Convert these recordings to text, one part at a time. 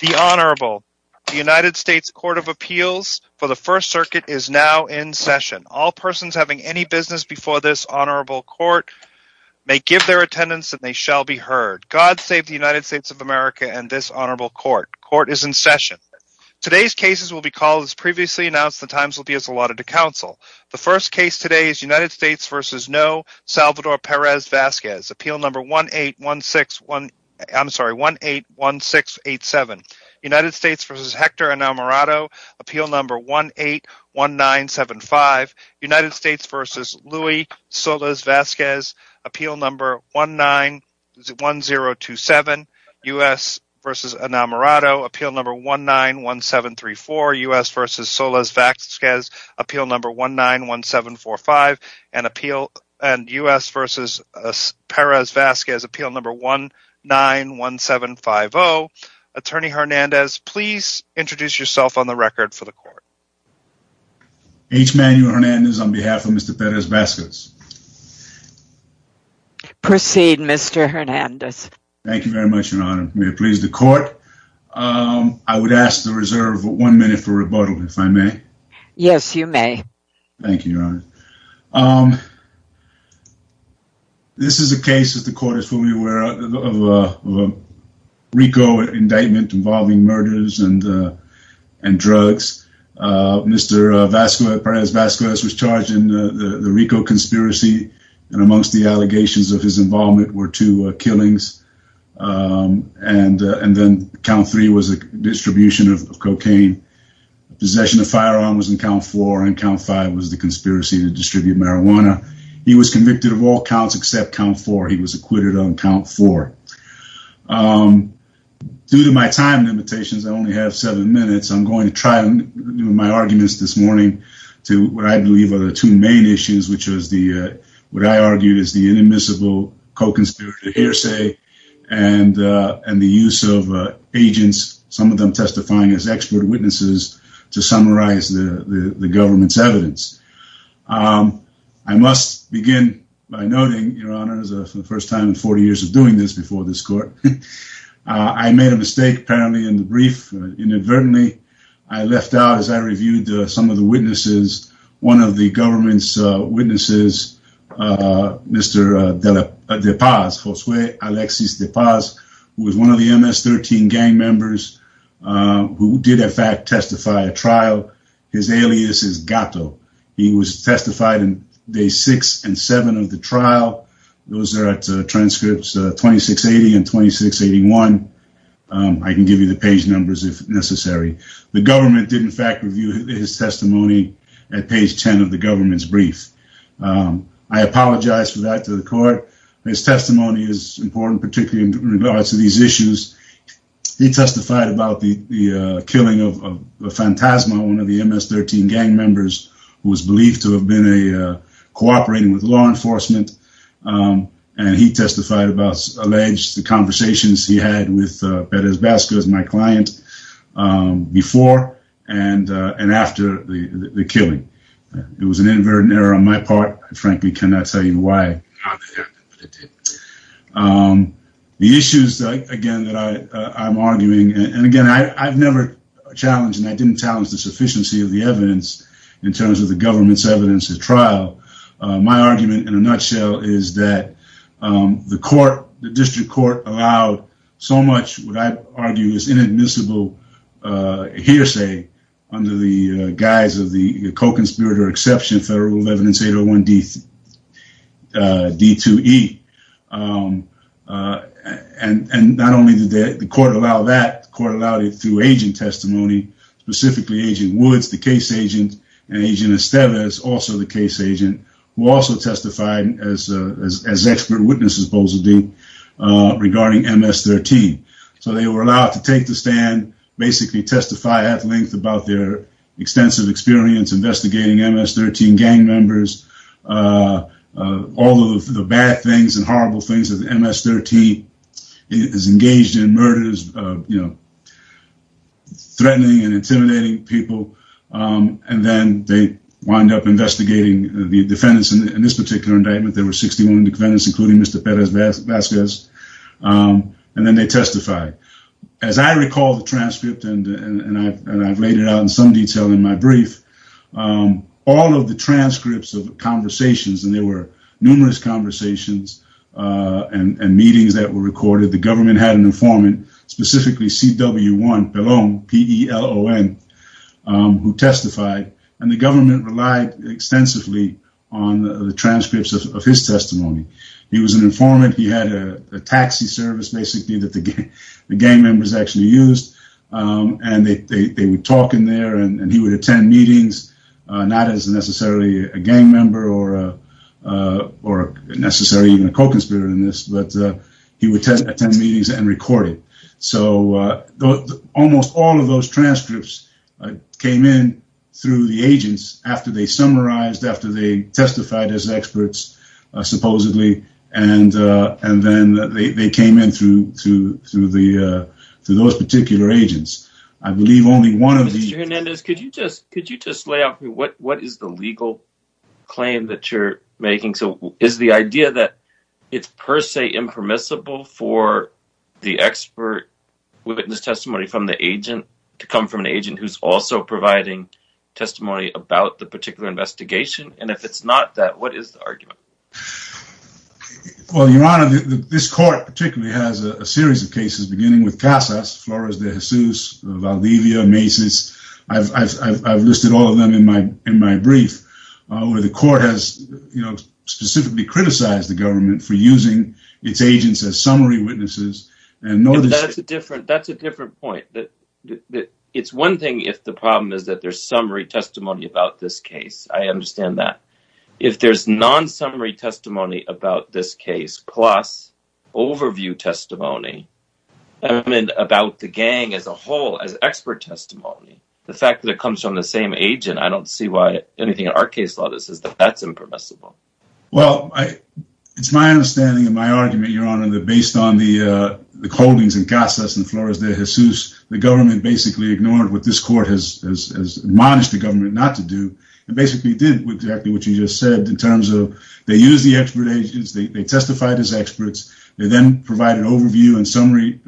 The Honorable United States Court of Appeals for the First Circuit is now in session. All persons having any business before this Honorable Court may give their attendance and they shall be heard. God save the United States of America and this Honorable Court. Court is in session. Today's cases will be called as previously announced. The times will be as allotted to counsel. The first case today is United States v. No. Salvador Perez-Vasquez, No. 181687, United States v. Hector Enamorado, No. 181975, United States v. Louis Solis-Vasquez, No. 191027, United States v. Enamorado, No. 191734, United States v. Solis-Vasquez, No. 191745, United States v. Perez-Vasquez, No. 191750. Attorney Hernandez, please introduce yourself on the record for the Court. H. Manuel Hernandez on behalf of Mr. Perez-Vasquez. Proceed, Mr. Hernandez. Thank you very much, Your Honor. May it please the Court. I would ask to reserve one minute for rebuttal, if I may. Yes, you may. Thank you, Your Honor. This is a case, as the Court is fully aware of, of a RICO indictment involving murders and drugs. Mr. Perez-Vasquez was charged in the RICO conspiracy, and amongst the allegations of his involvement were two killings, and then count three was a distribution of cocaine. Possession of firearms was in count four, and count five was the conspiracy to distribute marijuana. He was convicted of all counts except count four. He was acquitted on count four. Due to my time limitations, I only have seven minutes. I'm going to try to do my arguments this morning to what I believe are the two main issues, which is what I argued is the inadmissible co-conspirator hearsay and the use of agents, some of them testifying as expert witnesses, to summarize the government's evidence. I must begin by noting, Your Honor, for the first time in 40 years of doing this before this Court, I made a mistake, apparently, in the brief. Inadvertently, I left out, as I reviewed some of the witnesses, one of the government's witnesses, Mr. DePaz, Josue Alexis DePaz, who was one of the MS-13 gang members, who did, in fact, testify at trial. His alias is Gato. He was testified on day six and seven of the trial. Those are at transcripts 2680 and 2681. I can give you the page numbers if necessary. The government did, in fact, review his testimony at page 10 of the government's brief. I apologize for that to the Court. His testimony is important, particularly in regards to these issues. He testified about the killing of Fantasma, one of the MS-13 gang members, who was believed to have been cooperating with law enforcement. He testified about, alleged, the conversations he had with Perez Vasquez, my client, before and after the killing. It was an inadvertent error on my part. I, frankly, cannot tell you why. The issues, again, that I'm arguing, and again, I've never challenged, and I didn't challenge the sufficiency of the evidence in terms of the government's evidence at trial. My argument, in a nutshell, is that the District Court allowed so much what I argue is inadmissible hearsay under the guise of the co-conspirator exception Federal Rule of Agent Testimony, specifically Agent Woods, the case agent, and Agent Estevez, also the case agent, who also testified as expert witnesses, supposedly, regarding MS-13. So, they were allowed to take the stand, basically testify at length about their extensive experience investigating MS-13 gang members, all of the bad things and horrible things that MS-13 has engaged in, murders, you know, threatening and intimidating people, and then they wind up investigating the defendants in this particular indictment. There were 61 defendants, including Mr. Perez Vasquez, and then they testified. As I recall the transcript, and I've laid it out in some detail in my brief, all of the transcripts of conversations, and there were numerous conversations and meetings that were recorded. The government had an informant, specifically CW1 Pellon, P-E-L-L-O-N, who testified, and the government relied extensively on the transcripts of his testimony. He was an informant. He had a taxi service, basically, that the gang members actually used, and they would talk in there, and he would attend meetings, not as necessarily a gang member or necessarily even a co-conspirator in this, but he would attend meetings and record it. So, almost all of those transcripts came in through the agents after they summarized, after they testified as experts, supposedly, and then they came in through those particular agents. I believe only one of the... Mr. Hernandez, could you just lay out for me what is the legal claim that you're making? So, is the idea that it's per se impermissible for the expert witness testimony from the agent to come from an agent who's also providing testimony about the particular investigation? And if it's not that, what is the argument? Well, Your Honor, this court particularly has a series of cases, beginning with Casas, Flores de where the court has, you know, specifically criticized the government for using its agents as summary witnesses. That's a different point. It's one thing if the problem is that there's summary testimony about this case. I understand that. If there's non-summary testimony about this case, plus overview testimony about the gang as a whole, as expert testimony, the fact that it comes from the same agent, I don't see why anything in our case law that says that that's impermissible. Well, it's my understanding and my argument, Your Honor, that based on the holdings in Casas and Flores de Jesus, the government basically ignored what this court has admonished the government not to do, and basically did exactly what you just said in terms of they used the expert agents, they testified as experts, they then provided overview and summary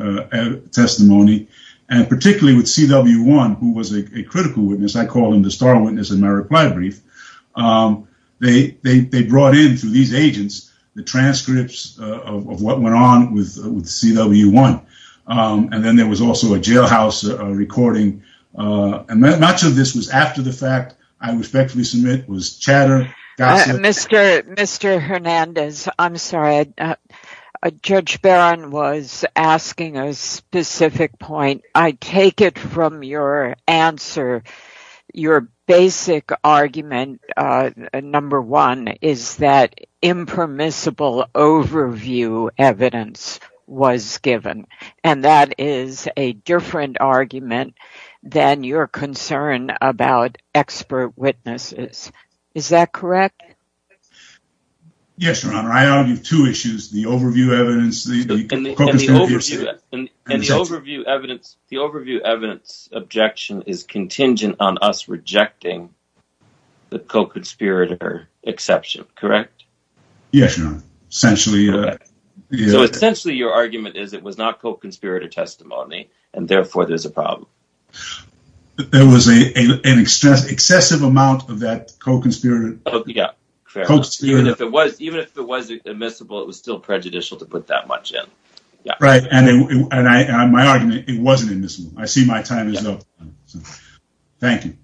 testimony, and particularly with CW1, who was a critical witness. I call him the star witness in my reply brief. They brought in, through these agents, the transcripts of what went on with CW1, and then there was also a jailhouse recording, and much of this was after the fact. I respectfully submit it was chatter. Mr. Hernandez, I'm sorry. Judge Barron was asking a specific point. I take it from your answer your basic argument, number one, is that impermissible overview evidence was given, and that is a different argument than your concern about expert witnesses. Is that correct? Yes, Your Honor. I argue two issues, the overview evidence. And the overview evidence objection is contingent on us rejecting the co-conspirator exception, correct? Yes, Your Honor. Essentially. So essentially your argument is it was not co-conspirator testimony, and therefore there's a problem. There was an excessive amount of that co-conspirator. Yeah. Even if it was admissible, it was still prejudicial to put that much in. Right. And my argument, it wasn't admissible. I see my time is up. Thank you.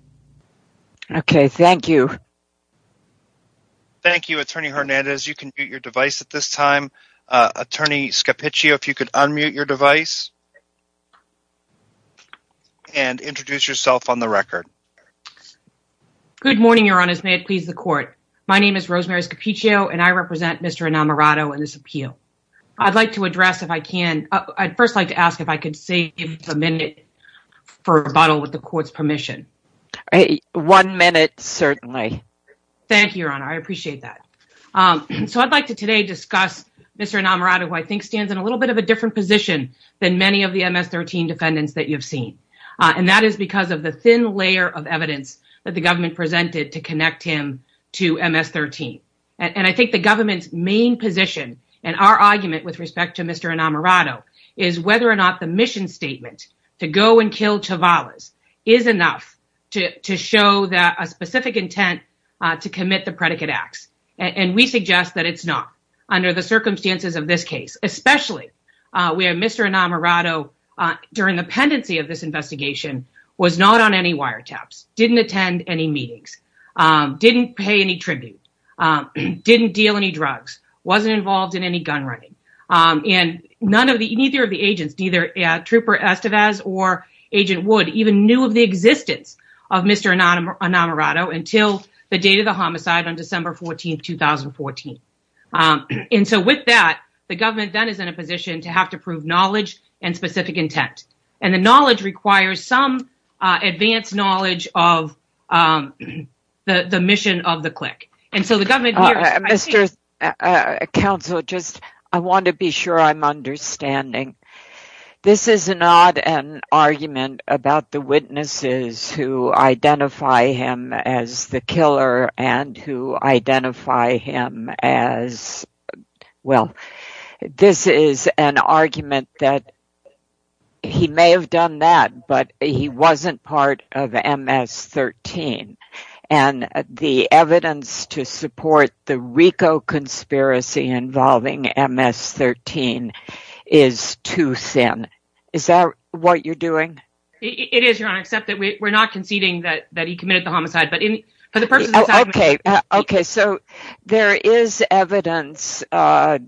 Okay. Thank you. Thank you, Attorney Hernandez. You can mute your device at this time. Attorney Scappiccio, if you could unmute your device and introduce yourself on the record. Okay. Good morning, Your Honor. May it please the court. My name is Rosemary Scappiccio, and I represent Mr. Inamorato in this appeal. I'd like to address if I can, I'd first like to ask if I could save a minute for rebuttal with the court's permission. One minute, certainly. Thank you, Your Honor. I appreciate that. So I'd like to today discuss Mr. Inamorato, who I think stands in a little bit of a different position than many of the MS-13 defendants that you've seen. And that is because of the thin layer of evidence that the government presented to connect him to MS-13. And I think the government's main position and our argument with respect to Mr. Inamorato is whether or not the mission statement to go and kill Chavales is enough to show that a specific intent to commit the predicate acts. And we suggest that it's not under the circumstances of this case, especially where Mr. Inamorato, during the pendency of this investigation, was not on any wiretaps, didn't attend any meetings, didn't pay any tribute, didn't deal any drugs, wasn't involved in any gun running. And none of the, neither of the agents, either Trooper Estevez or Agent Wood, even knew of the existence of Mr. Inamorato until the date of the homicide on December 14th, 2014. And so with that, the government then is in a position to have to prove knowledge and specific intent. And the knowledge requires some advanced knowledge of the mission of the clique. And so the government... Mr. Counsel, just, I want to be sure I'm understanding. This is not an argument about the witnesses who identify him as the killer and who identify him as, well, this is an argument that he may have done that, but he wasn't part of MS-13. And the evidence to support the RICO conspiracy involving MS-13 is too thin. Is that what you're doing? It is, Your Honor, except that we're not conceding that he committed the homicide, but for the purpose of this argument... Oh, okay. Okay. So there is evidence, I've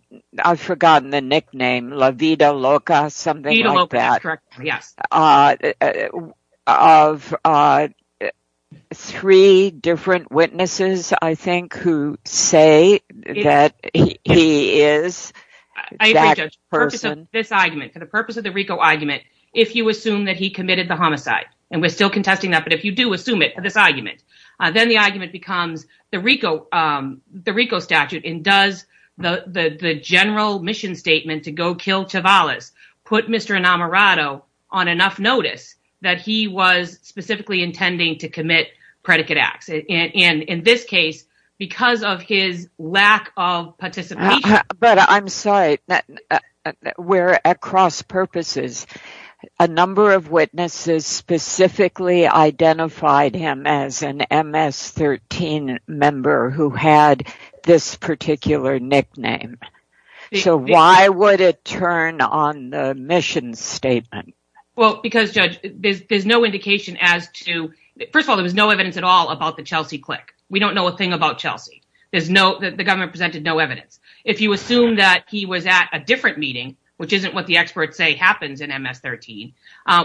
forgotten the nickname, La Vida Loca, something like that, of three different witnesses, I think, who say that he is that person. I agree, Judge, for the purpose of this argument, for the purpose of the RICO argument, if you assume that he committed the homicide, and we're still contesting that, but if you do assume it for this argument, then the argument becomes the RICO statute and does the general mission statement to go kill Chavales put Mr. Inamorato on enough notice that he was specifically intending to commit predicate acts. And in this case, because of his lack of participation... But I'm sorry, we're at cross purposes. A number of witnesses specifically identified him as an MS-13 member who had this particular nickname. So why would it turn on the mission statement? Well, because, Judge, there's no indication as to... First of all, there was no evidence at all about the Chelsea click. We don't know a thing about Chelsea. The government presented no evidence. If you assume that he was at a different meeting, which isn't what the experts say happens in MS-13,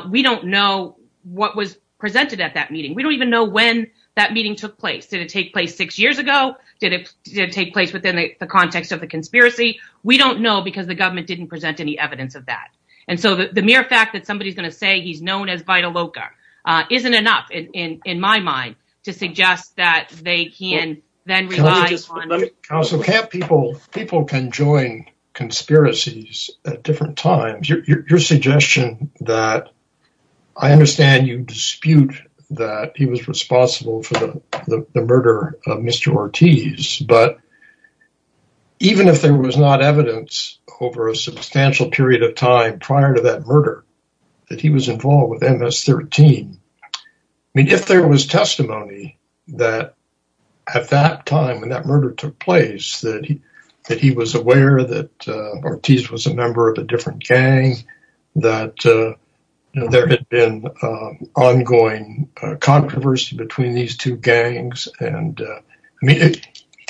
we don't know what was presented at that meeting. We don't even know when that meeting took place. Did it take place six years ago? Did it take place within the context of the conspiracy? We don't know because the government didn't present any evidence of that. And so the mere fact that somebody is going to say he's known as Vitaloka isn't enough in my to suggest that they can then rely on... Counsel, can't people... People can join conspiracies at different times. Your suggestion that... I understand you dispute that he was responsible for the murder of Mr. Ortiz, but even if there was not evidence over a substantial period of time prior to that murder, that he was involved with MS-13, I mean, if there was testimony that at that time when that murder took place, that he was aware that Ortiz was a member of a different gang, that there had been ongoing controversy between these two gangs. And I mean,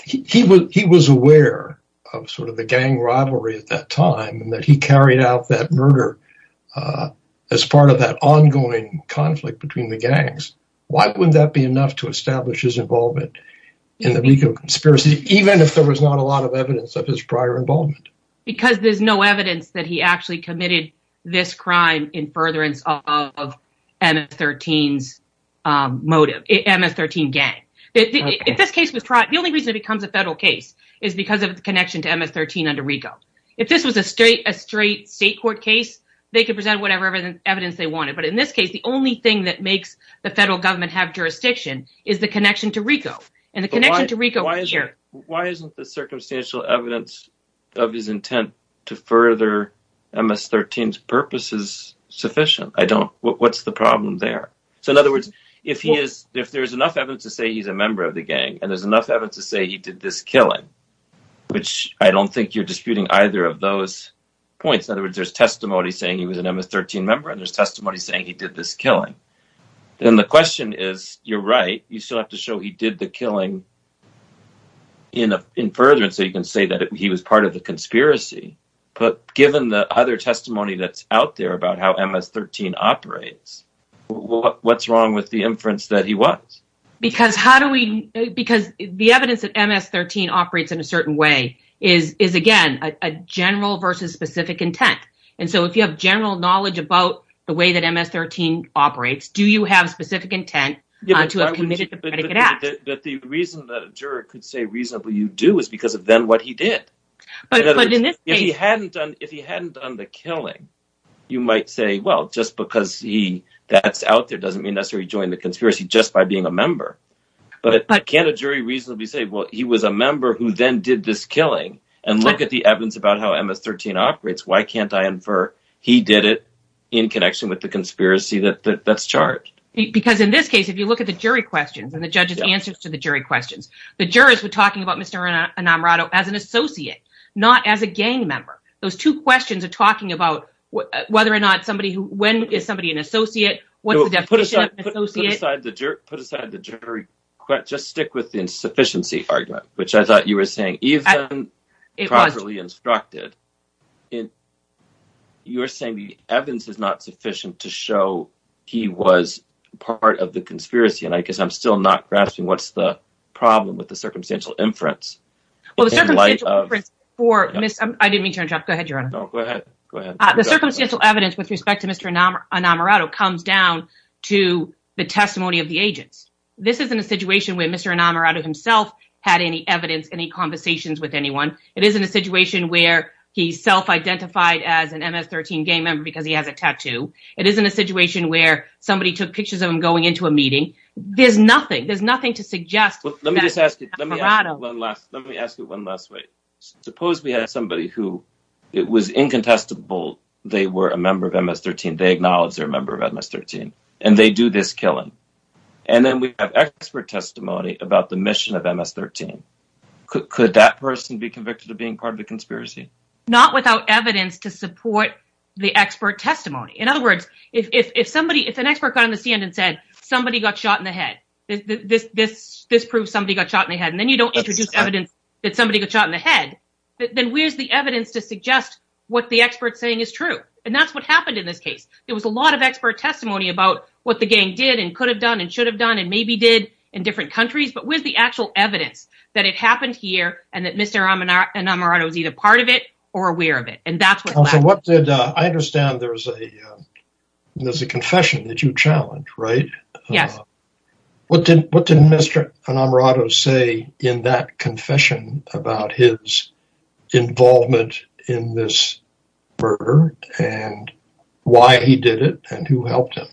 he was aware of sort of the gang rivalry at that time and that he carried out that murder as part of that ongoing conflict between the gangs. Why wouldn't that be enough to establish his involvement in the RICO conspiracy, even if there was not a lot of evidence of his prior involvement? Because there's no evidence that he actually committed this crime in furtherance of MS-13's motive, MS-13 gang. The only reason it becomes a federal case is because of the connection to MS-13 under RICO. If this was a straight state court case, they could present whatever evidence they wanted. But in this case, the only thing that makes the federal government have jurisdiction is the connection to RICO. And the connection to RICO... Why isn't the circumstantial evidence of his intent to further MS-13's purpose is sufficient? I don't... What's the problem there? So in other words, if there's enough evidence to say he's a which I don't think you're disputing either of those points. In other words, there's testimony saying he was an MS-13 member and there's testimony saying he did this killing. Then the question is, you're right, you still have to show he did the killing in furtherance so you can say that he was part of the conspiracy. But given the other testimony that's out there about how MS-13 operates, what's wrong with the inference that he was? Because how do we... Because the evidence that MS-13 operates in a certain way is, again, a general versus specific intent. And so if you have general knowledge about the way that MS-13 operates, do you have specific intent to have committed the predicate act? That the reason that a juror could say reasonably you do is because of then what he did. But in this case... If he hadn't done the killing, you might say, well, just because that's out there doesn't necessarily mean he joined the conspiracy just by being a member. But can't a jury reasonably say, well, he was a member who then did this killing and look at the evidence about how MS-13 operates, why can't I infer he did it in connection with the conspiracy that's charged? Because in this case, if you look at the jury questions and the judge's answers to the jury questions, the jurors were talking about Mr. Inamorato as an associate, not as a gang member. Those two questions are talking about whether or not somebody who... When is somebody an associate? What's the definition of an associate? Put aside the jury question, just stick with the insufficiency argument, which I thought you were saying, even properly instructed. You're saying the evidence is not sufficient to show he was part of the conspiracy, and I guess I'm still not grasping what's the problem with the circumstantial inference. Well, the circumstantial inference for... I didn't mean to interrupt. Go ahead, Your Honor. No, go ahead. The circumstantial evidence with respect to Mr. Inamorato comes down to the testimony of the agents. This isn't a situation where Mr. Inamorato himself had any evidence, any conversations with anyone. It isn't a situation where he self-identified as an MS-13 gang member because he has a tattoo. It isn't a situation where somebody took pictures of him going into a meeting. There's nothing. There's nothing to suggest that Inamorato... Let me just ask you one last... Let me ask you one last way. Suppose we had somebody who it was incontestable they were a member of MS-13, they acknowledge they're a member of MS-13, and they do this killing, and then we have expert testimony about the mission of MS-13. Could that person be convicted of being part of the conspiracy? Not without evidence to support the expert testimony. In other words, if somebody, if an expert got on the stand and said somebody got shot in the head, this proves somebody got shot in the head, and then you don't introduce evidence that somebody got shot in the head, then where's the evidence to suggest what the expert's saying is true? And that's what happened in this case. There was a lot of expert testimony about what the gang did and could have done and should have done and maybe did in different countries, but where's the actual evidence that it happened here and that Mr. Inamorato was either part of it or aware of it? And that's what happened. I understand there's a confession that you involved in this murder and why he did it and who helped him.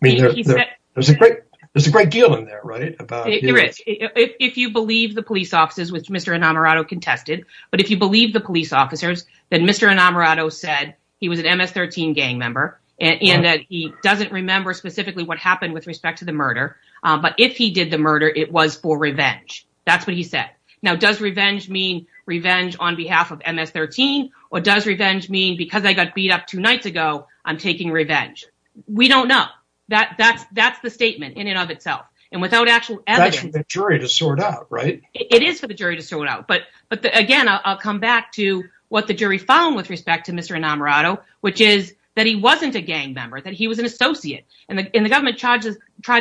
There's a great deal in there, right? If you believe the police officers, which Mr. Inamorato contested, but if you believe the police officers, then Mr. Inamorato said he was an MS-13 gang member and that he doesn't remember specifically what happened with respect to the murder, but if he did the murder, it was for revenge. That's what he said. Now, does revenge mean revenge on behalf of MS-13 or does revenge mean because I got beat up two nights ago, I'm taking revenge? We don't know. That's the statement in and of itself. And without actual evidence- That's for the jury to sort out, right? It is for the jury to sort out. But again, I'll come back to what the jury found with respect to Mr. Inamorato, which is that he wasn't a gang member, that he was an associate. And the government tried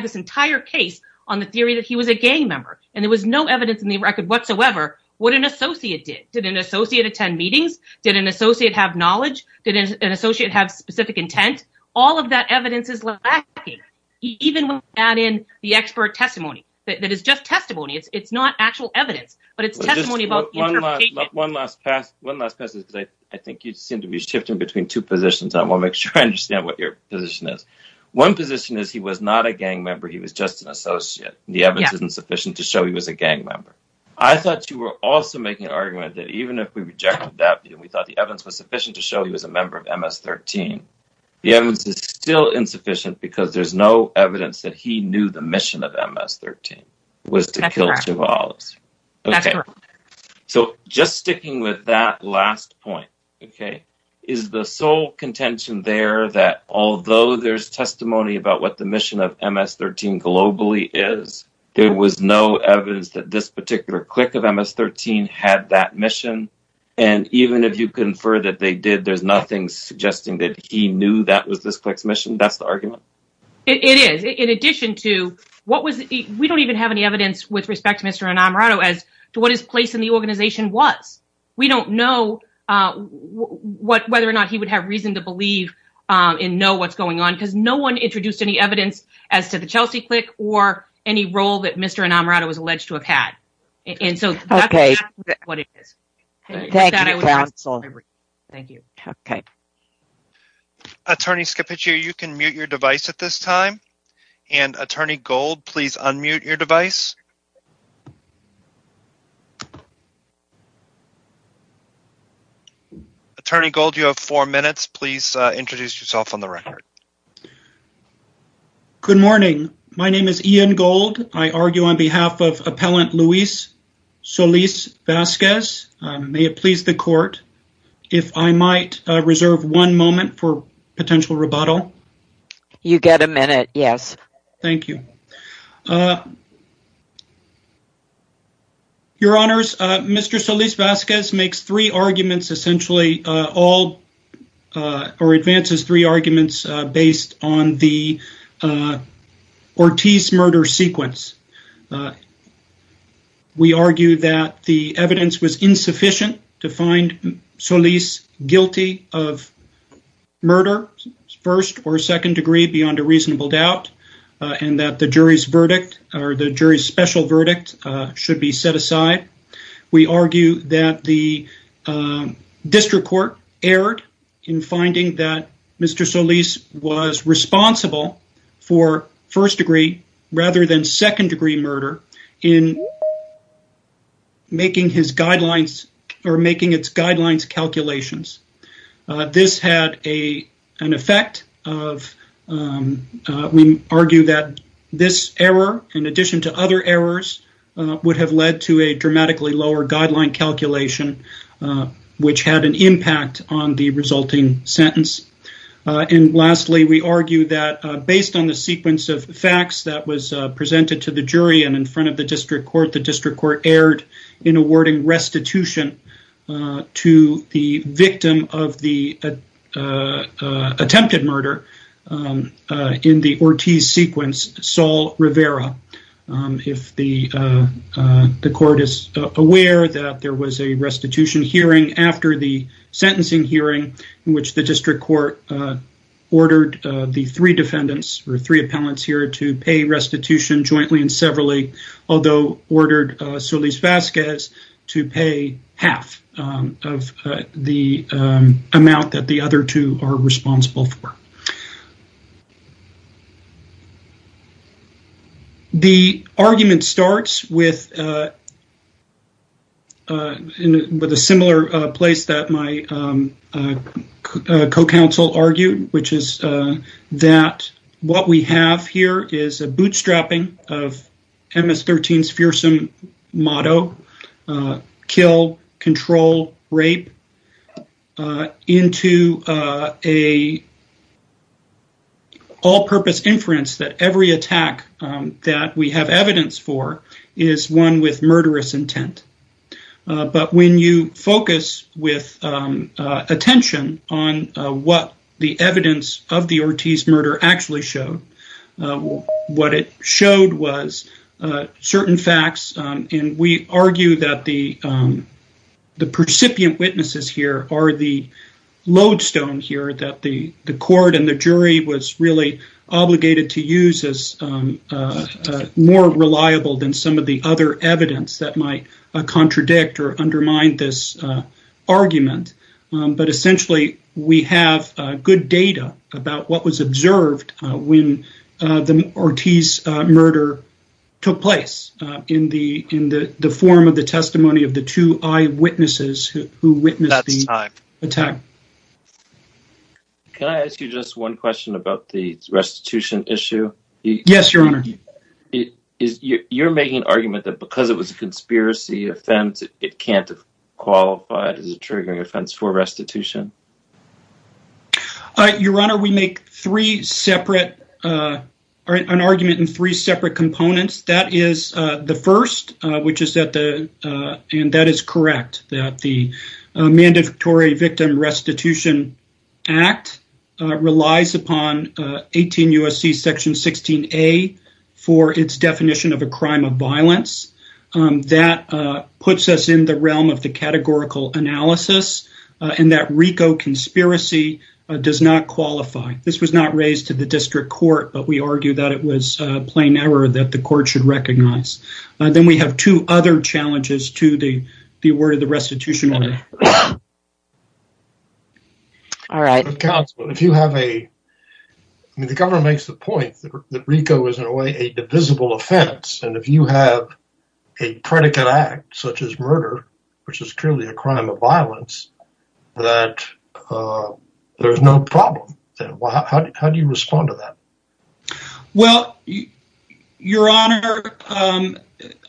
this entire case on the theory that he was a gang member. And there was no evidence in the record whatsoever what an associate did. Did an associate attend meetings? Did an associate have knowledge? Did an associate have specific intent? All of that evidence is lacking, even when we add in the expert testimony. That is just testimony. It's not actual evidence, but it's testimony about the interpretation. One last pass. One last pass because I think you seem to be shifting between two positions. I want to make sure I understand what your position is. One position is he was not a gang member. He was just an associate. The evidence isn't sufficient to show he was a gang member. I thought you were also making an argument that even if we rejected that, we thought the evidence was sufficient to show he was a member of MS-13. The evidence is still insufficient because there's no evidence that he knew the mission of MS-13 was to kill two olives. So just sticking with that last point, okay, is the sole contention there that although there's testimony about what the mission of MS-13 globally is, there was no evidence that this particular clique of MS-13 had that mission. And even if you confer that they did, there's nothing suggesting that he knew that was this clique's mission. That's the argument. It is. In addition to what was... We don't even have any evidence with respect to Mr. Inamorato as to what his place in the organization was. We don't know whether or not he would have reason to believe and know what's going on because no one introduced any evidence as to the Chelsea clique or any role that Mr. Inamorato was alleged to have had. And so that's exactly what it is. Okay. Thank you, counsel. Thank you. Okay. Attorney Scapiccio, you can mute your device at this time. And Attorney Gold, please unmute your device. Attorney Gold, you have four minutes. Please introduce yourself on the record. Good morning. My name is Ian Gold. I argue on behalf of Appellant Luis Solis-Vasquez. May it please the court if I might reserve one moment for potential rebuttal? You get a minute. Yes. Thank you. Your Honors, Mr. Solis-Vasquez makes three arguments essentially... or advances three arguments based on the Ortiz murder sequence. We argue that the evidence was insufficient to find Solis guilty of murder, first or second degree beyond a reasonable doubt, and that the jury's verdict or the jury's special verdict should be in finding that Mr. Solis was responsible for first degree rather than second degree murder in making his guidelines or making its guidelines calculations. This had an effect of... we argue that this error, in addition to other errors, would have led to a dramatically lower guideline calculation, which had an impact on the resulting sentence. And lastly, we argue that based on the sequence of facts that was presented to the jury and in front of the district court, the district court erred in awarding restitution to the victim of the attempted murder in the Ortiz sequence, Sol Rivera. If the court is aware that there was a restitution hearing after the sentencing hearing in which the district court ordered the three defendants or three appellants here to pay restitution jointly and severally, although ordered Solis-Vasquez to pay half of the amount that the other two are responsible for. The argument starts with a similar place that my co-counsel argued, which is that what we have here is a bootstrapping of MS-13's fearsome motto, kill, control, rape, into a all-purpose inference that every attack that we have evidence for is one with murderous intent. But when you focus with attention on what the evidence of the Ortiz murder actually showed, what it showed was certain facts. And we argue that the percipient witnesses here are the lodestone here that the court and the jury was really obligated to use as more reliable than some of the other evidence that might contradict or undermine this argument. But essentially, we have good data about what was observed when the Ortiz murder took place in the form of the testimony of the two eyewitnesses who witnessed the attack. Can I ask you just one question about the restitution issue? Yes, your honor. You're making an argument that because it was a conspiracy offense, it can't have qualified as a triggering offense for restitution. Your honor, we make an argument in three separate components. That is the first, and that is correct, that the Mandatory Victim Restitution Act relies upon 18 U.S.C. section 16a for its definition of a crime of violence. That puts us in the realm of the categorical analysis and that RICO conspiracy does not qualify. This was not raised to the district court, but we argue that it was a plain error that the court should recognize. Then we have two other challenges to the word of the restitution order. All right. The government makes the point that RICO is in a way a divisible offense, and if you have a predicate act such as murder, which is clearly a crime of violence, that there's no problem. How do you respond to that? Well, your honor,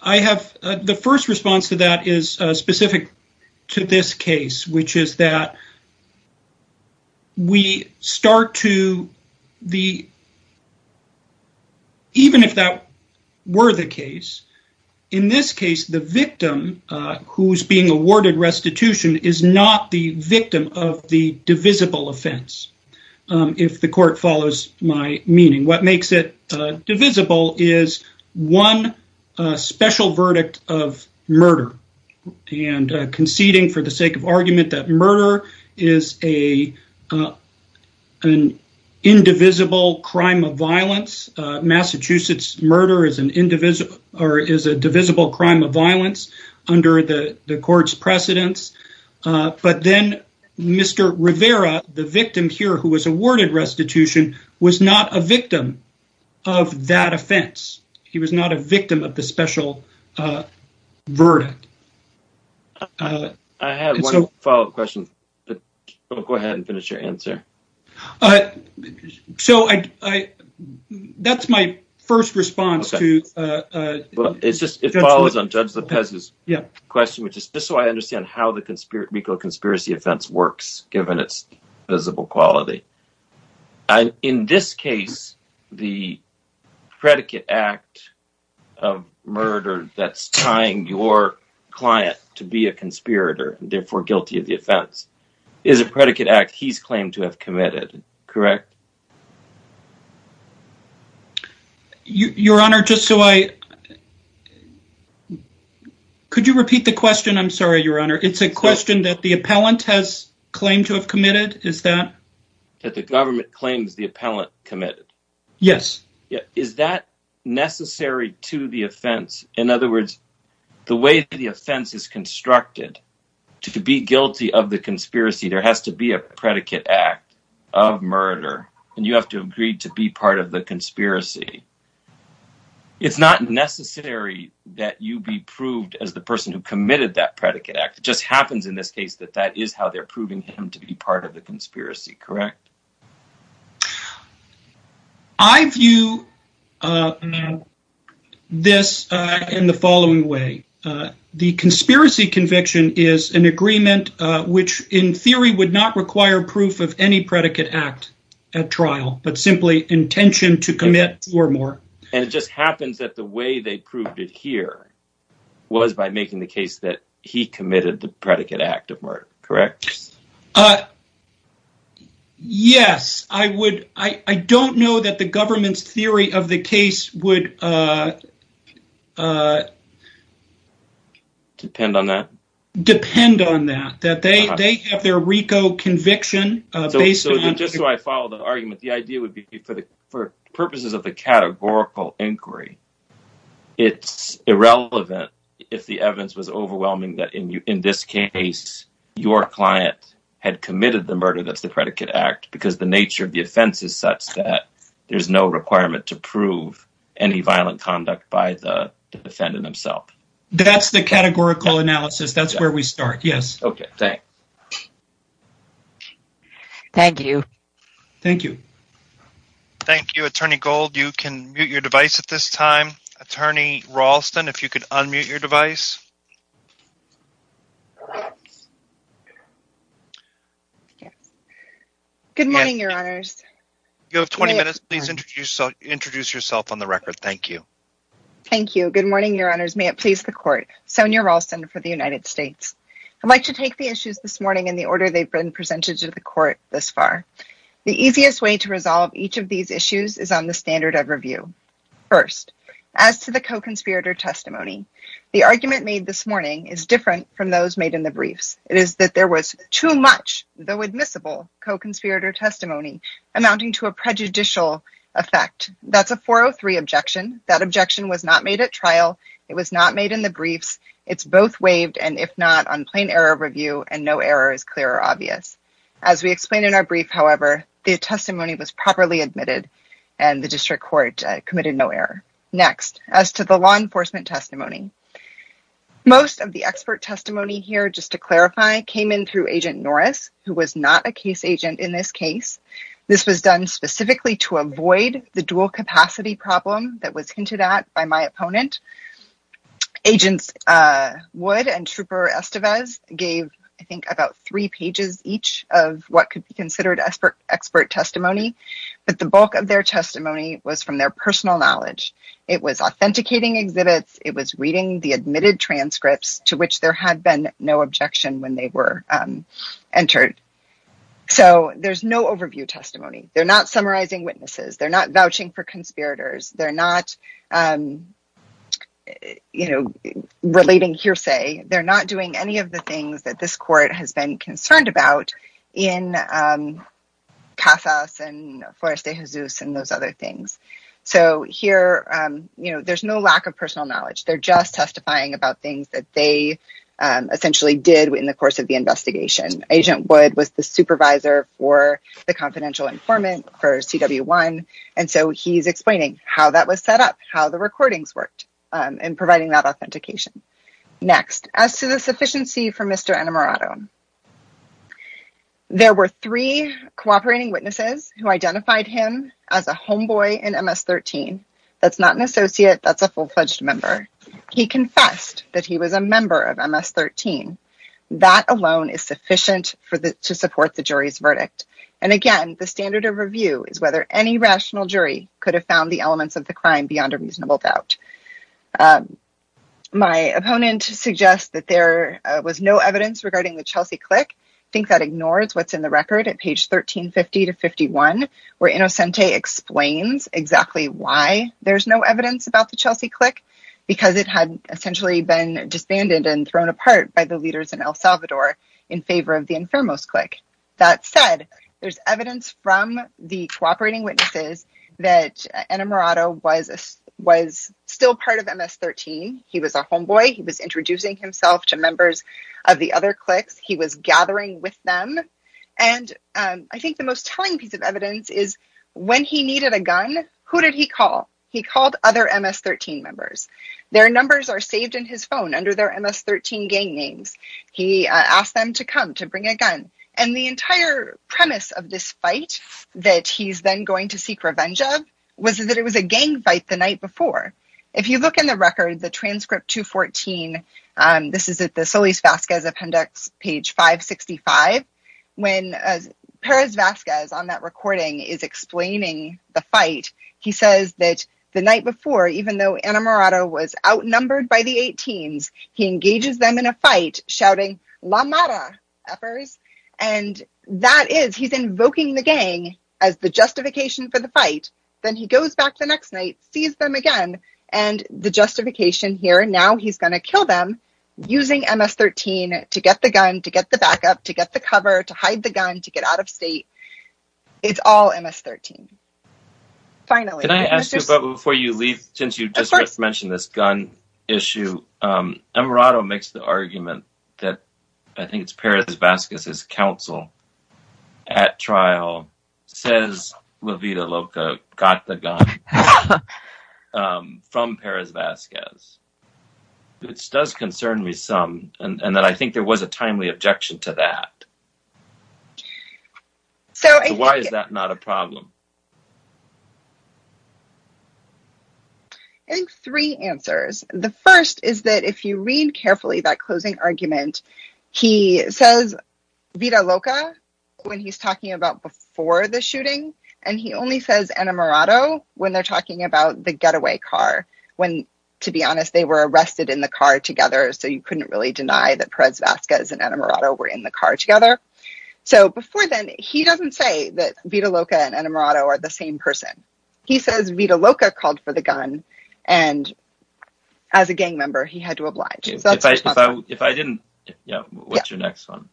I have the first response to that is specific to this case, which is that we start to, even if that were the case, in this case, the victim who's being awarded restitution is not the victim of the divisible offense, if the court follows my meaning. What makes it divisible is one special verdict of murder and conceding for the sake of argument that murder is an indivisible crime of violence. Massachusetts murder is a divisible crime of violence under the court's precedence, but then Mr. Rivera, the victim here who was awarded restitution, was not a victim of that offense. He was not a victim of the special verdict. I have one follow-up question. Go ahead and finish your answer. That's my first response. It follows on Judge Lopez's question, which is just so I understand how the legal conspiracy offense works, given its divisible quality. In this case, the predicate act of murder that's tying your client to be a conspirator, therefore guilty of the offense, is a predicate act he's claimed to have committed, correct? Your Honor, just so I... Could you repeat the question? I'm sorry, Your Honor. It's a question that the appellant has claimed to have committed? Is that... That the government claims the appellant committed? Yes. Is that necessary to the offense? In other words, the way the offense is constructed, to be guilty of the conspiracy, there has to be a predicate act of murder, and you have to agree to be part of the conspiracy. It's not necessary that you be proved as the person who committed that predicate act. It just happens in this case that that is how they're proving him to be part of the conspiracy, correct? I view this in the following way. The conspiracy conviction is an agreement which, in theory, would not require proof of any predicate act at trial, but simply intention to commit or more. And it just happens that the way they proved it here was by making the case that he committed the predicate act of murder, correct? Uh, yes. I would... I don't know that the government's theory of the case would... Depend on that? Depend on that. That they have their RICO conviction based on... Just so I follow the argument, the idea would be for purposes of the categorical inquiry, it's irrelevant if the evidence was overwhelming that in this case your client had committed the murder that's the predicate act because the nature of the offense is such that there's no requirement to prove any violent conduct by the defendant himself. That's the categorical analysis. That's where we start. Yes. Okay, thanks. Thank you. Thank you. Thank you. Attorney Gold, you can mute your device at this time. Attorney Ralston, if you could unmute your device. Good morning, your honors. You have 20 minutes. Please introduce yourself on the record. Thank you. Thank you. Good morning, your honors. May it please the court. Sonia Ralston for the United States. I'd like to take the issues this morning in the order they've been presented to the court thus far. The easiest way to resolve each of these issues is on the standard of review. First, as to the co-conspirator testimony, the argument made this morning is different from those made in the briefs. It is that there was too much, though admissible, co-conspirator testimony amounting to a prejudicial effect. That's a 403 objection. That objection was not made at trial. It was not made in the briefs. It's both waived and, if not, on plain error review and no error is clear or obvious. As we explained in our brief, however, the testimony was properly admitted and the district court committed no error. Next, as to the law enforcement testimony, most of the expert testimony here, just to clarify, came in through Agent Norris, who was not a case agent in this case. This was done specifically to avoid the dual capacity problem that was hinted at by my opponent. Agents Wood and Trooper Estevez gave, I think, about three pages each of what could be considered expert testimony, but the bulk of their testimony was from their personal knowledge. It was authenticating exhibits. It was reading the admitted transcripts to which there had been no objection when they were entered. So, there's no overview testimony. They're not summarizing witnesses. They're not any of the things that this court has been concerned about in Casas and Forest de Jesus and those other things. So, here, you know, there's no lack of personal knowledge. They're just testifying about things that they essentially did in the course of the investigation. Agent Wood was the supervisor for the confidential informant for CW1, and so he's explaining how that was set up, how the recordings worked, and providing that authentication. Next, as to the sufficiency for Mr. Annamarato, there were three cooperating witnesses who identified him as a homeboy in MS-13. That's not an associate. That's a full-fledged member. He confessed that he was a member of MS-13. That alone is sufficient to support the jury's verdict, and again, the standard of review is whether any rational jury could have found the elements of the crime beyond a reasonable doubt. My opponent suggests that there was no evidence regarding the Chelsea click. I think that ignores what's in the record at page 1350-51, where Innocente explains exactly why there's no evidence about the Chelsea click, because it had essentially been disbanded and thrown apart by the leaders in El Salvador in favor of the Enfermos click. That said, there's evidence from the cooperating witnesses that Annamarato was still part of MS-13. He was a homeboy. He was introducing himself to members of the other clicks. He was gathering with them, and I think the most telling piece of evidence is when he needed a gun, who did he call? He called other MS-13 members. Their numbers are saved in his phone under their MS-13 gang names. He asked them to come to bring a gun, and the entire premise of this fight that he's then going to seek revenge of was that it was a gang fight the night before. If you look in the record, the transcript 214, this is at the Solis-Vasquez appendix, page 565, when Perez-Vasquez on that recording is explaining the fight, he says that the night before, even though Annamarato was outnumbered by the 18s, he engages them in a fight, shouting, and that is, he's invoking the gang as the justification for the fight. Then he goes back the next night, sees them again, and the justification here, now he's going to kill them using MS-13 to get the gun, to get the backup, to get the cover, to hide the gun, to get out of state. It's all MS-13. Finally. Can I ask you, but before you leave, since you just mentioned this gun issue, Annamarato makes the argument that, I think it's Perez-Vasquez's counsel at trial, says LaVita Loca got the gun from Perez-Vasquez, which does concern me some, and that I think there was a timely objection to that. Why is that not a problem? I think three answers. The first is that if you read carefully that closing argument, he says LaVita Loca when he's talking about before the shooting, and he only says Annamarato when they're talking about the getaway car, when, to be honest, they were arrested in the car together, so you couldn't really deny that Perez-Vasquez and Annamarato were in the car together. So before then, he doesn't say that LaVita Loca and Annamarato are the same person. He says LaVita Loca called for the gun, and as a gang member, he had to oblige. If I didn't, what's your next one?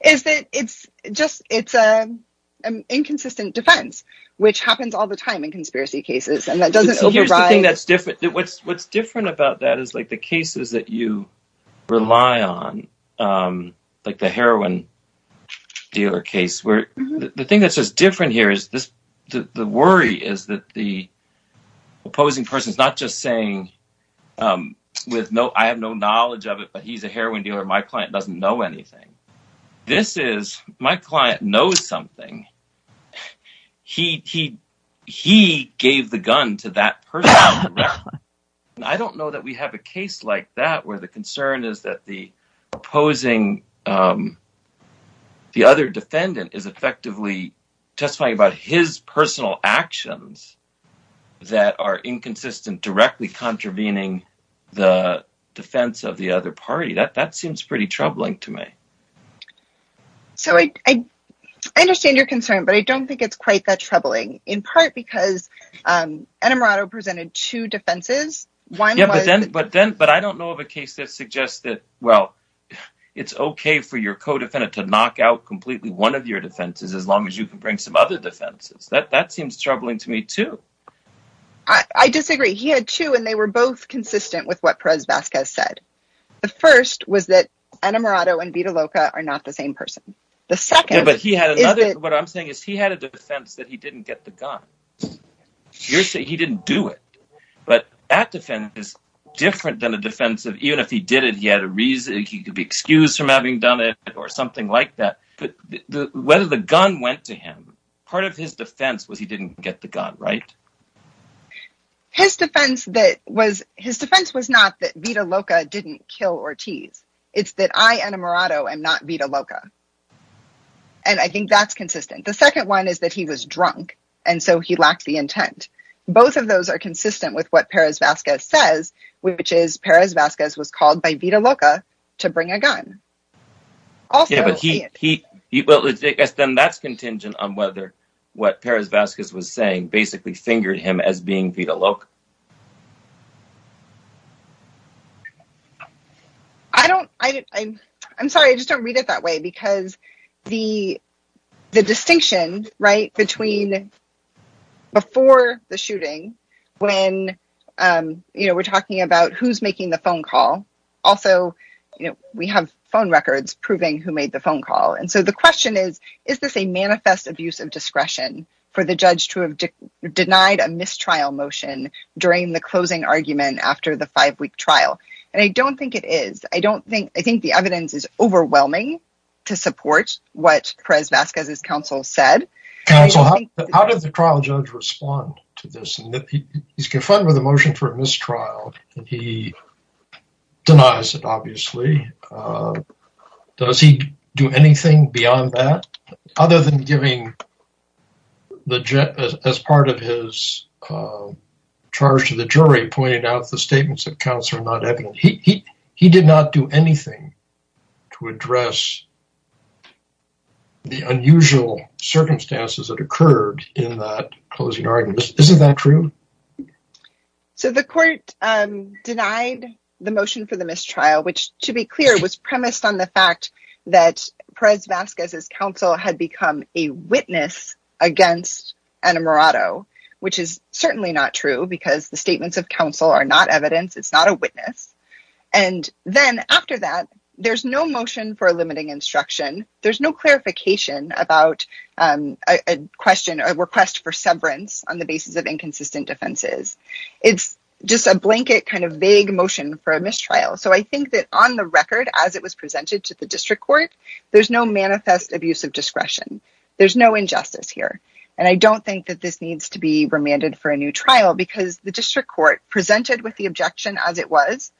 It's an inconsistent defense, which happens all the time in conspiracy cases. Here's the thing that's different. What's different about that is the cases that you rely on, like the heroin dealer case. The thing that's just different here is the worry is that the opposing person's not just saying, I have no knowledge of it, but he's a heroin dealer. My client doesn't know anything. This is, my client knows something. He gave the gun to that person. I don't know that we have a case like that where the concern is that the opposing, the other defendant is effectively testifying about his personal actions that are inconsistent, directly contravening the defense of the other party. That seems pretty troubling to me. So I understand your concern, but I don't think it's quite that troubling, in part because Annamarato presented two defenses. But I don't know of a case that suggests that, well, it's okay for your co-defendant to knock out completely one of your defenses as long as you can bring some other defenses. That too, and they were both consistent with what Perez-Vasquez said. The first was that Annamarato and Vita Loca are not the same person. The second- Yeah, but he had another, what I'm saying is he had a defense that he didn't get the gun. You're saying he didn't do it, but that defense is different than a defense of even if he did it, he had a reason, he could be excused from having done it or something like that. Whether the gun went to him, part of his defense was he didn't get the gun, right? His defense was not that Vita Loca didn't kill Ortiz. It's that I, Annamarato, am not Vita Loca. And I think that's consistent. The second one is that he was drunk, and so he lacked the intent. Both of those are consistent with what Perez-Vasquez says, which is Perez-Vasquez was called by Vita Loca to bring a gun. Yeah, but then that's contingent on whether what Perez-Vasquez was saying, basically fingered him as being Vita Loca. I'm sorry, I just don't read it that way, because the distinction between before the shooting, when we're talking about who's making the phone call. Also, we have phone records proving who made the phone call. And so the question is, is this a manifest abuse of discretion for the judge to have denied a mistrial motion during the closing argument after the five-week trial? And I don't think it is. I think the evidence is overwhelming to support what Perez-Vasquez's counsel said. How did the trial judge respond to this? He's confronted with a motion for a mistrial, and he denies it, obviously. Does he do anything beyond that? Other than giving, as part of his charge to the jury, pointed out the statements of counsel are not evident. He did not do anything to address the unusual circumstances that occurred in that closing argument. Is that true? So the court denied the motion for the mistrial, which, to be clear, was premised on the fact that Perez-Vasquez's counsel had become a witness against Ana Morado, which is certainly not true, because the statements of counsel are not evidence. It's not a witness. And then after that, there's no motion for a limiting instruction. There's no basis of inconsistent defenses. It's just a blanket kind of vague motion for a mistrial. So I think that on the record, as it was presented to the district court, there's no manifest abuse of discretion. There's no injustice here. And I don't think that this needs to be remanded for a new trial, because the district court presented with the objection as it was,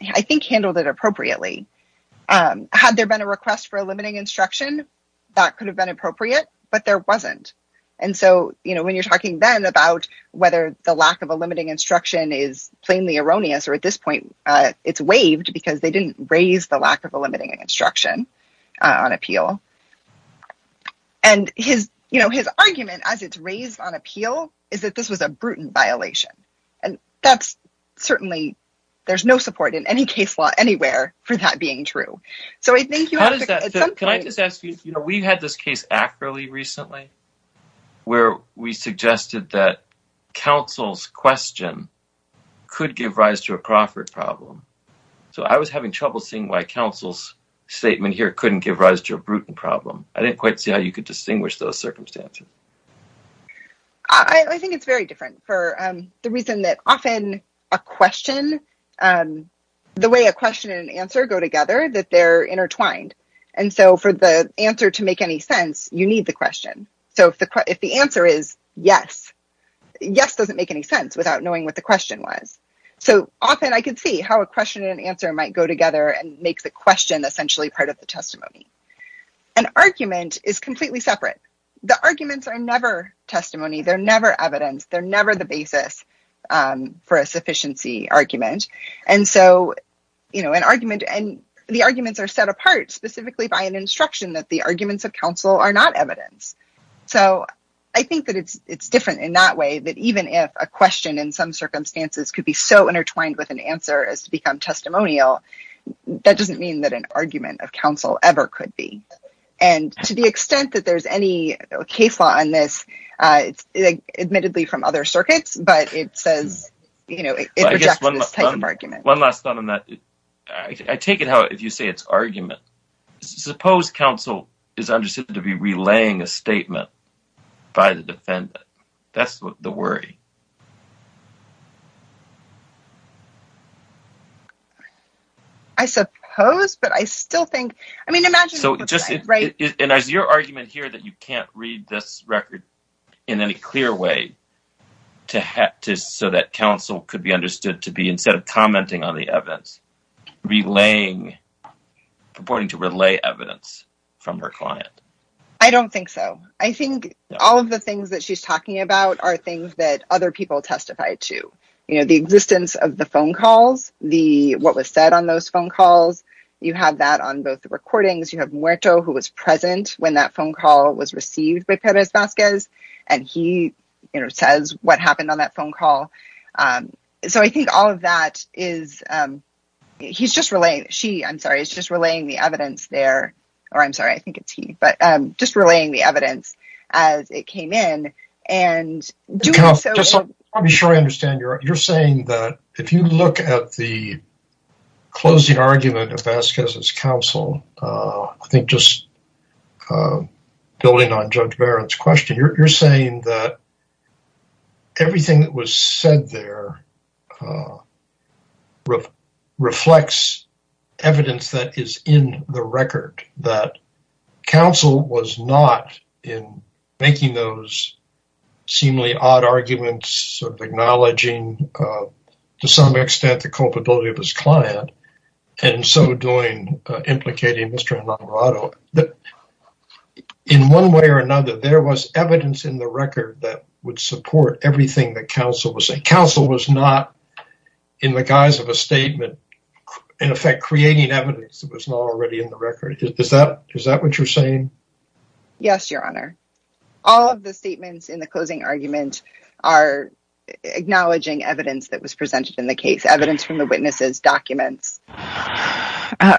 I think handled it appropriately. Had there been a request for a limiting instruction, that could have been appropriate, but there wasn't. And so, you know, when you're talking then about whether the lack of a limiting instruction is plainly erroneous, or at this point, it's waived because they didn't raise the lack of a limiting instruction on appeal. And his, you know, his argument as it's raised on appeal is that this was a brutal violation. And that's certainly, there's no support in any case law anywhere for that being true. So I think you have to- Can I just ask you, you know, we've had this case accurately recently, where we suggested that counsel's question could give rise to a Crawford problem. So I was having trouble seeing why counsel's statement here couldn't give rise to a Bruton problem. I didn't quite see how you could distinguish those circumstances. I think it's very different for the reason that often a question, the way a question and answer go together, that they're intertwined. And so for the answer to make any sense, you need the question. So if the answer is yes, yes doesn't make any sense without knowing what the question was. So often I could see how a question and answer might go together and make the question essentially part of the testimony. An argument is completely separate. The arguments are never testimony, they're never evidence, they're never the basis for a sufficiency argument. And so, you know, an argument, and the arguments are set apart specifically by an instruction that the arguments of counsel are not evidence. So I think that it's different in that way, that even if a question in some circumstances could be so intertwined with an answer as to become testimonial, that doesn't mean that an argument of counsel ever could be. And to the extent that there's any case law on this, it's admittedly from other circuits, but it says, you know, it rejects this type of argument. One last thought on that. I take it how, if you say it's argument, suppose counsel is understood to be relaying a statement by the defendant. That's the worry. I suppose, but I still think, I mean, imagine. So just, and as your argument here that you can't read this record in any clear way to, so that counsel could be understood to be, instead of commenting on the evidence, relaying, purporting to relay evidence from her client. I don't think so. I think all of the things that she's talking about are things that other people testify to. You know, the existence of the phone calls, the, what was said on those phone calls, you have that on both the recordings. You have Muerto, who was present when that phone call was received by Perez Vasquez. And he, you know, says what happened on that phone call. So I think all of that is, he's just relaying, she, I'm sorry, is just relaying the evidence there, or I'm sorry, I think it's he, but just relaying the evidence as it came in. I'll be sure I understand you're saying that if you look at the closing argument of Vasquez's counsel, I think just building on Judge Barrett's question, you're saying that everything that was said there reflects evidence that is in the record, that counsel was not in making those seemingly odd arguments, sort of acknowledging to some extent the culpability of his client, and so doing, implicating Mr. Enamorado, that in one way or another, there was evidence in the record that would support everything that counsel was saying. Counsel was not, in the guise of a statement, in effect creating evidence that was not already in the record. Is that what you're saying? Yes, Your Honor. All of the statements in the closing argument are acknowledging evidence that was presented in the case, evidence from the witnesses, documents.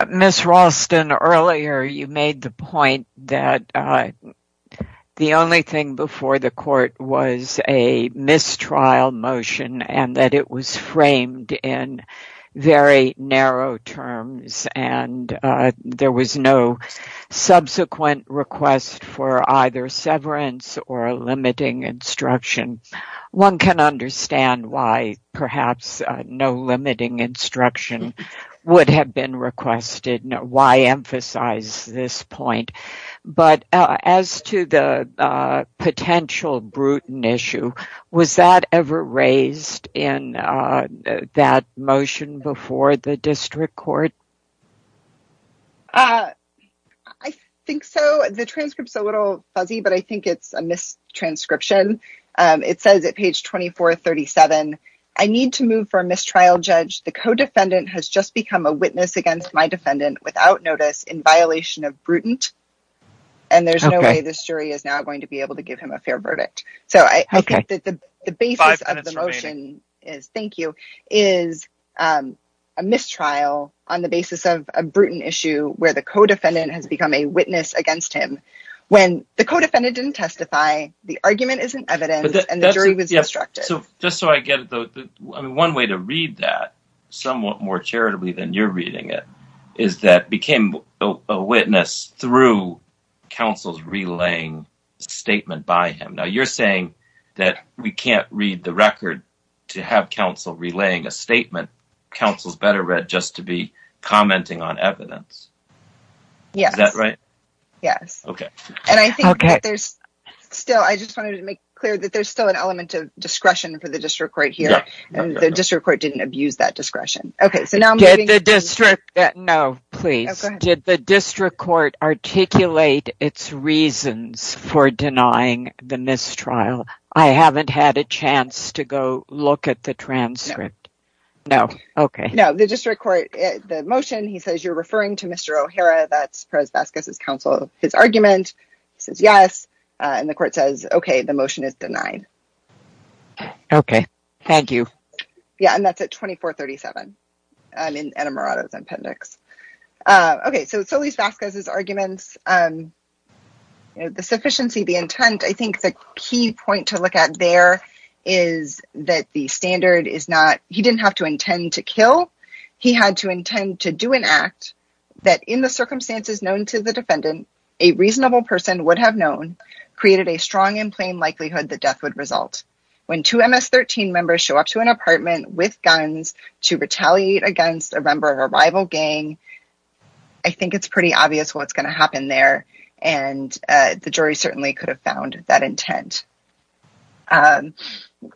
Ms. Ralston, earlier you made the point that the only thing before the court was a mistrial motion, and that it was framed in very narrow terms, and there was no subsequent request for either severance or limiting instruction. One can understand why perhaps no limiting instruction would have been requested. Why emphasize this point? But as to the potential Bruton issue, was that ever raised in that motion before the district court? I think so. The transcript's a little fuzzy, but I think it's a mistranscription. It says at page 2437, I need to move for a mistrial judge. The co-defendant has just become a witness against my defendant without notice in violation of Bruton, and there's no way this jury is now going to be able to give him a fair verdict. So I think that the basis of the motion is a mistrial on the basis of a Bruton issue where the co-defendant has become a witness against him when the co-defendant didn't testify, the argument isn't evidence, and the jury was instructed. Just so I get it though, one way to read that somewhat more charitably than you're reading it is that became a witness through counsel's relaying statement by him. Now you're saying that we can't read the record to have counsel relaying a witness? Is that right? Yes. I just wanted to make clear that there's still an element of discretion for the district court here, and the district court didn't abuse that discretion. Did the district court articulate its reasons for denying the mistrial? I haven't had a chance to go look at the transcript. No, the district court, the motion, he says you're referring to Mr. O'Hara, that's Perez-Vasquez's counsel, his argument, he says yes, and the court says okay, the motion is denied. Okay, thank you. Yeah, and that's at 2437 in Anna Murado's appendix. Okay, so Solis-Vasquez's arguments, the sufficiency, the intent, I think the key point to look at there is that the standard is not, he didn't have to intend to kill, he had to intend to do an act that in the circumstances known to the defendant, a reasonable person would have known created a strong and plain likelihood that death would result. When two MS-13 members show up to an apartment with guns to retaliate against a member of a rival gang, I think it's pretty obvious what's going to happen there, and the jury certainly could have found that intent.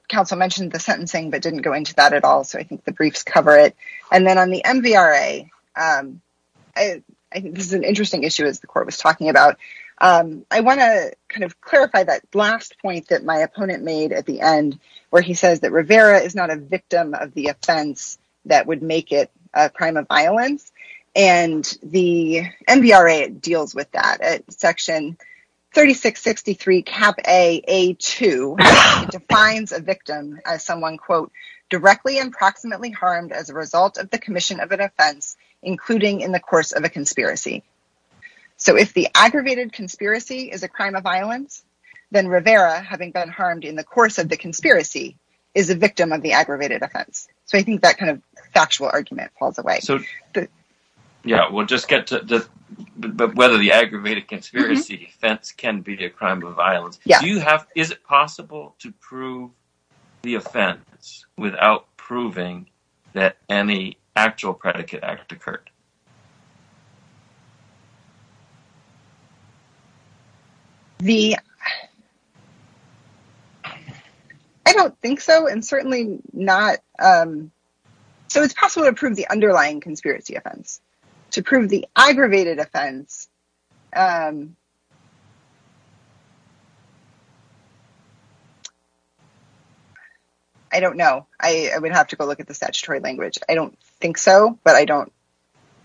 Counsel mentioned the sentencing, but didn't go into that at all, so I think the briefs cover it, and then on the MVRA, I think this is an interesting issue, as the court was talking about, I want to kind of clarify that last point that my opponent made at the end, where he says that Rivera is not a victim of the offense that would make it a crime of violence, and the MVRA deals with that. Section 3663, Cap A, A2 defines a victim as someone, quote, directly and proximately harmed as a result of the commission of an offense, including in the course of a conspiracy. So if the aggravated conspiracy is a crime of violence, then Rivera, having been harmed in the course of the conspiracy, is a victim of the aggravated offense. So I think that kind of factual argument falls away. So yeah, we'll just get to whether the aggravated conspiracy offense can be a crime of violence. Do you have, is it possible to prove the offense without proving that any actual predicate act occurred? I don't think so, and certainly not, so it's possible to prove the underlying conspiracy offense. To prove the aggravated offense, I don't know. I would have to go look at the statutory language. I don't think so, but I don't,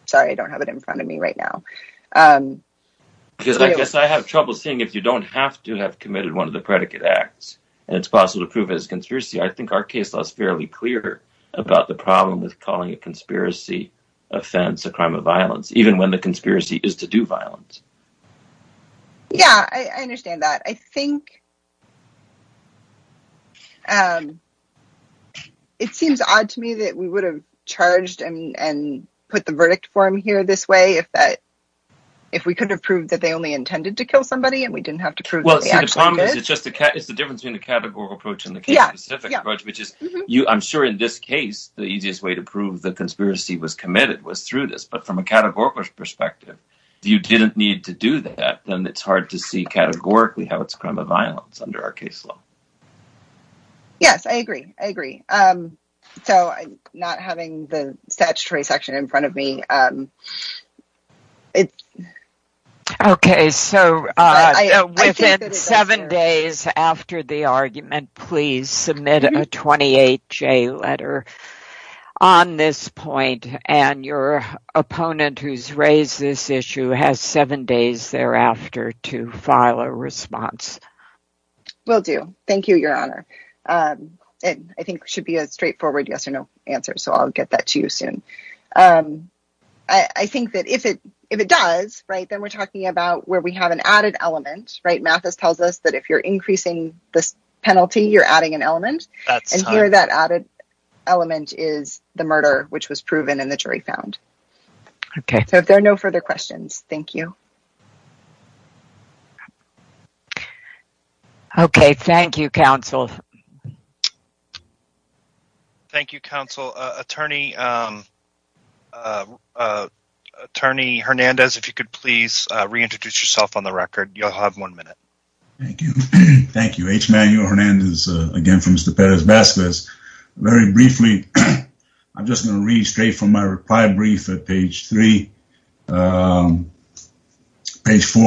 sorry, I don't have it in front of me right now. Because I guess I have trouble seeing if you don't have to have committed one of the predicate acts, and it's possible to prove it as conspiracy. I think our case law is fairly clear about the problem with calling a conspiracy offense a crime of violence, even when the conspiracy is to do violence. Yeah, I understand that. I think it seems odd to me that we would have charged and put the verdict form here this way if that, if we could have proved that they only intended to kill somebody, and we didn't have to prove that they actually did. Well, see, the problem is it's just, it's the difference between the the easiest way to prove the conspiracy was committed was through this, but from a categorical perspective, if you didn't need to do that, then it's hard to see categorically how it's a crime of violence under our case law. Yes, I agree. I agree. So, I'm not having the statutory section in front of me. Okay, so within seven days after the argument, please submit a 28-J letter on this point, and your opponent who's raised this issue has seven days thereafter to file a response. Will do. Thank you, Your Honor. I think it should be a straightforward yes or no answer, so I'll get that to you soon. I think that if it does, right, then we're talking about where we have an added element, right? Mathis tells us that if you're increasing this penalty, you're adding an element, and here that added element is the murder which was proven and the jury found. Okay, so if there are no further questions, thank you. Okay, thank you, counsel. Thank you, counsel. Attorney Hernandez, if you could please reintroduce yourself on the record, you'll have one minute. Thank you. Thank you. H. Manuel Hernandez, again, from Mr. Perez Vasquez. Very briefly, I'm just going to read straight from my reply brief at page three, page four,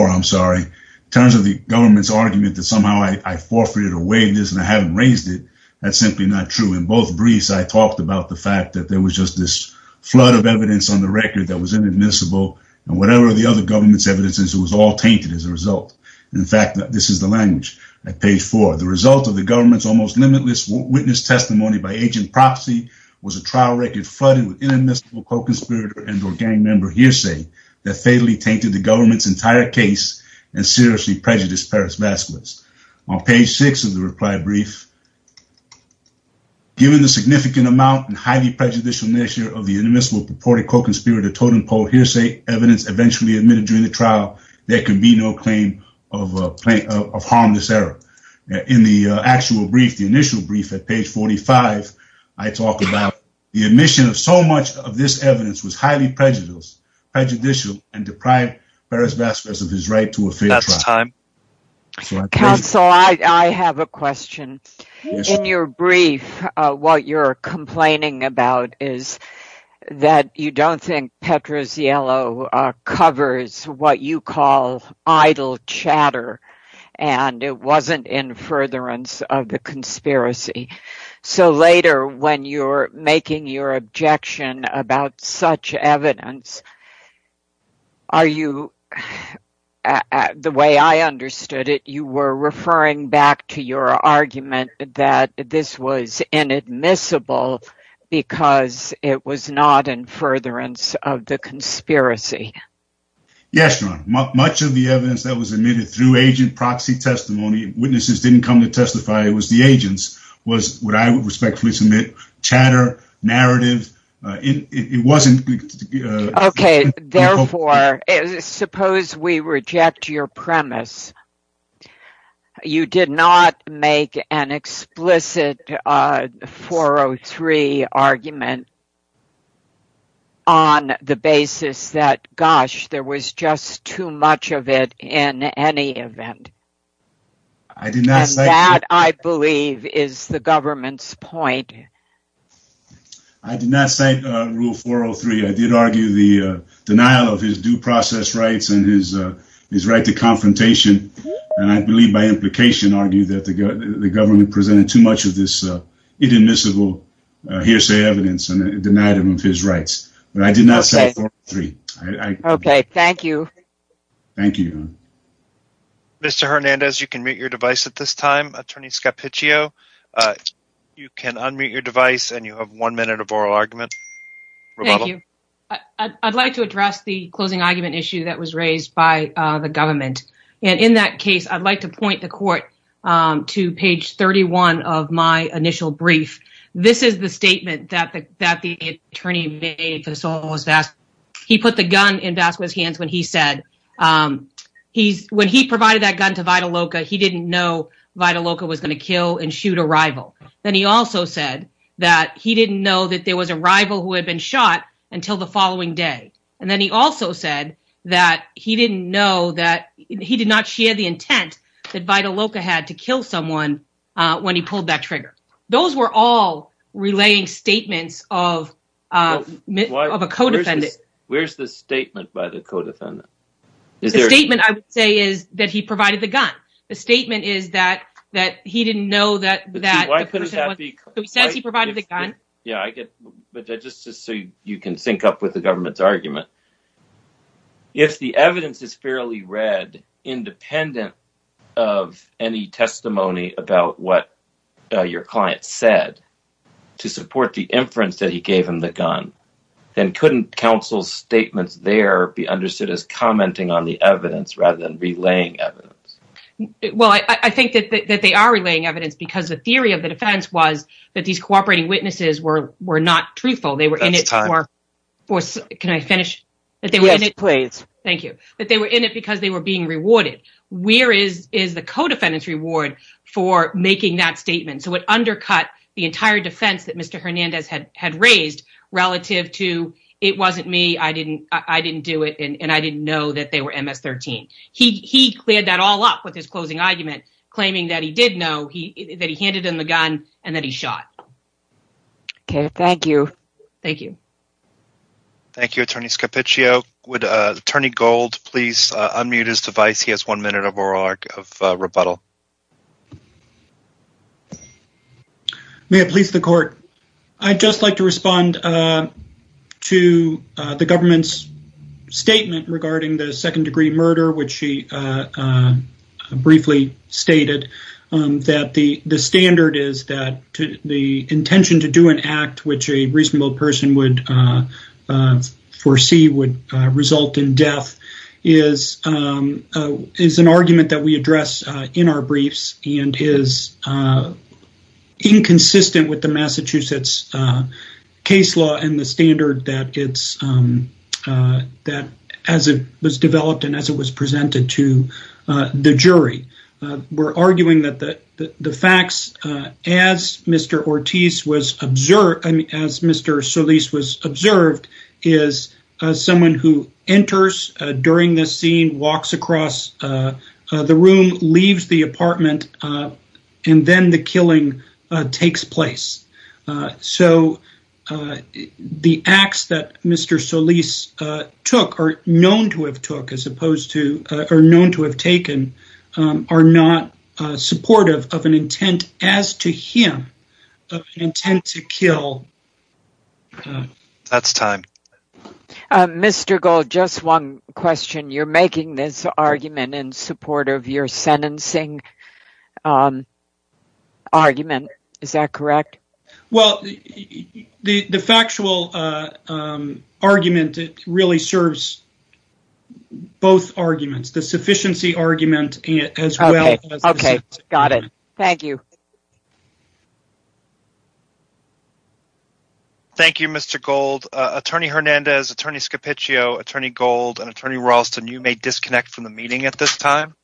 I'm sorry. In terms of the government's argument that somehow I forfeited away this and I haven't raised it, that's simply not true. In both briefs, I talked about the fact that there was just this flood of evidence on the record that was inadmissible, and whatever the government's evidence is, it was all tainted as a result. In fact, this is the language at page four. The result of the government's almost limitless witness testimony by agent proxy was a trial record flooded with inadmissible co-conspirator and or gang member hearsay that fatally tainted the government's entire case and seriously prejudiced Perez Vasquez. On page six of the reply brief, given the significant amount and highly prejudicial nature of the inadmissible purported co-conspirator totem pole hearsay evidence eventually admitted during the trial, there can be no claim of harmless error. In the actual brief, the initial brief at page 45, I talk about the admission of so much of this evidence was highly prejudicial and deprived Perez Vasquez of his right to a fair trial. Counsel, I have a question. In your brief, what you're complaining about is that you don't think Petra's yellow covers what you call idle chatter, and it wasn't in furtherance of the conspiracy. So later, when you're making your objection about such evidence, are you, the way I understood it, you were referring back to your inadmissible because it was not in furtherance of the conspiracy? Yes, your honor. Much of the evidence that was admitted through agent proxy testimony, witnesses didn't come to testify, it was the agents, was what I would respectfully submit, chatter, narrative, it wasn't. Okay, therefore, suppose we reject your premise, you did not make an explicit 403 argument on the basis that, gosh, there was just too much of it in any event. That, I believe, is the government's point. I did not cite rule 403. I did argue the denial of his due process rights and his right to confrontation, and I believe by implication argued that the government presented too much of this inadmissible hearsay evidence and denied him of his rights, but I did not cite 403. Okay, thank you. Thank you. Mr. Hernandez, you can mute your device at this time. Attorney Scappiccio, you can unmute your device and you have one minute of oral argument. Thank you. I'd like to address the closing argument issue that was raised by the government, and in that case, I'd like to point the court to page 31 of my initial brief. This is the gun in Vasquez's hands when he said, when he provided that gun to Vidal Loca, he didn't know Vidal Loca was going to kill and shoot a rival. Then he also said that he didn't know that there was a rival who had been shot until the following day, and then he also said that he did not share the intent that Vidal Loca had to kill someone when he pulled that trigger. Those were all relaying statements of a co-defendant. Where's the statement by the co-defendant? The statement, I would say, is that he provided the gun. The statement is that he didn't know that the person was... So he says he provided the gun? Yeah, but just so you can sync up with the government's argument, if the evidence is fairly read, independent of any testimony about what your client said, to support the inference that he gave him the gun, then couldn't counsel's statements there be understood as commenting on the evidence rather than relaying evidence? Well, I think that they are relaying evidence because the theory of the defense was that these cooperating witnesses were not truthful. They were in it for... Can I finish? Yes, please. Thank you. That they were in it because they were being rewarded. Where is the co-defendant's reward for making that statement? So it undercut the entire defense that Mr. Hernandez had raised relative to, it wasn't me, I didn't do it, and I didn't know that they were MS-13. He cleared that all up with his closing argument, claiming that he did know, that he handed him the gun, and that he shot. Okay, thank you. Thank you. Thank you, Attorney Scarpiccio. Would Attorney Gold please unmute his device? He has one minute of rebuttal. May it please the court. I'd just like to respond to the government's statement regarding the second degree murder, which she briefly stated that the standard is that the intention to do an act which a reasonable person would foresee would result in death is an argument that we and is inconsistent with the Massachusetts case law and the standard that as it was developed and as it was presented to the jury. We're arguing that the facts as Mr. Ortiz was observed, as Mr. Solis was observed, is someone who enters during this scene, walks across the room, leaves the apartment, and then the killing takes place. So the acts that Mr. Solis took, or known to have took, as opposed to, or known to have taken, are not supportive of an intent as to him, of an intent to kill. That's time. Mr. Gold, just one question. You're making this argument in support of your sentencing argument. Is that correct? Well, the factual argument, it really serves both arguments. The sufficiency argument as well. Okay, got it. Thank you. Thank you, Mr. Gold. Attorney Hernandez, Attorney Scapiccio, Attorney Gold, and Attorney Ralston, you may disconnect from the meeting at this time.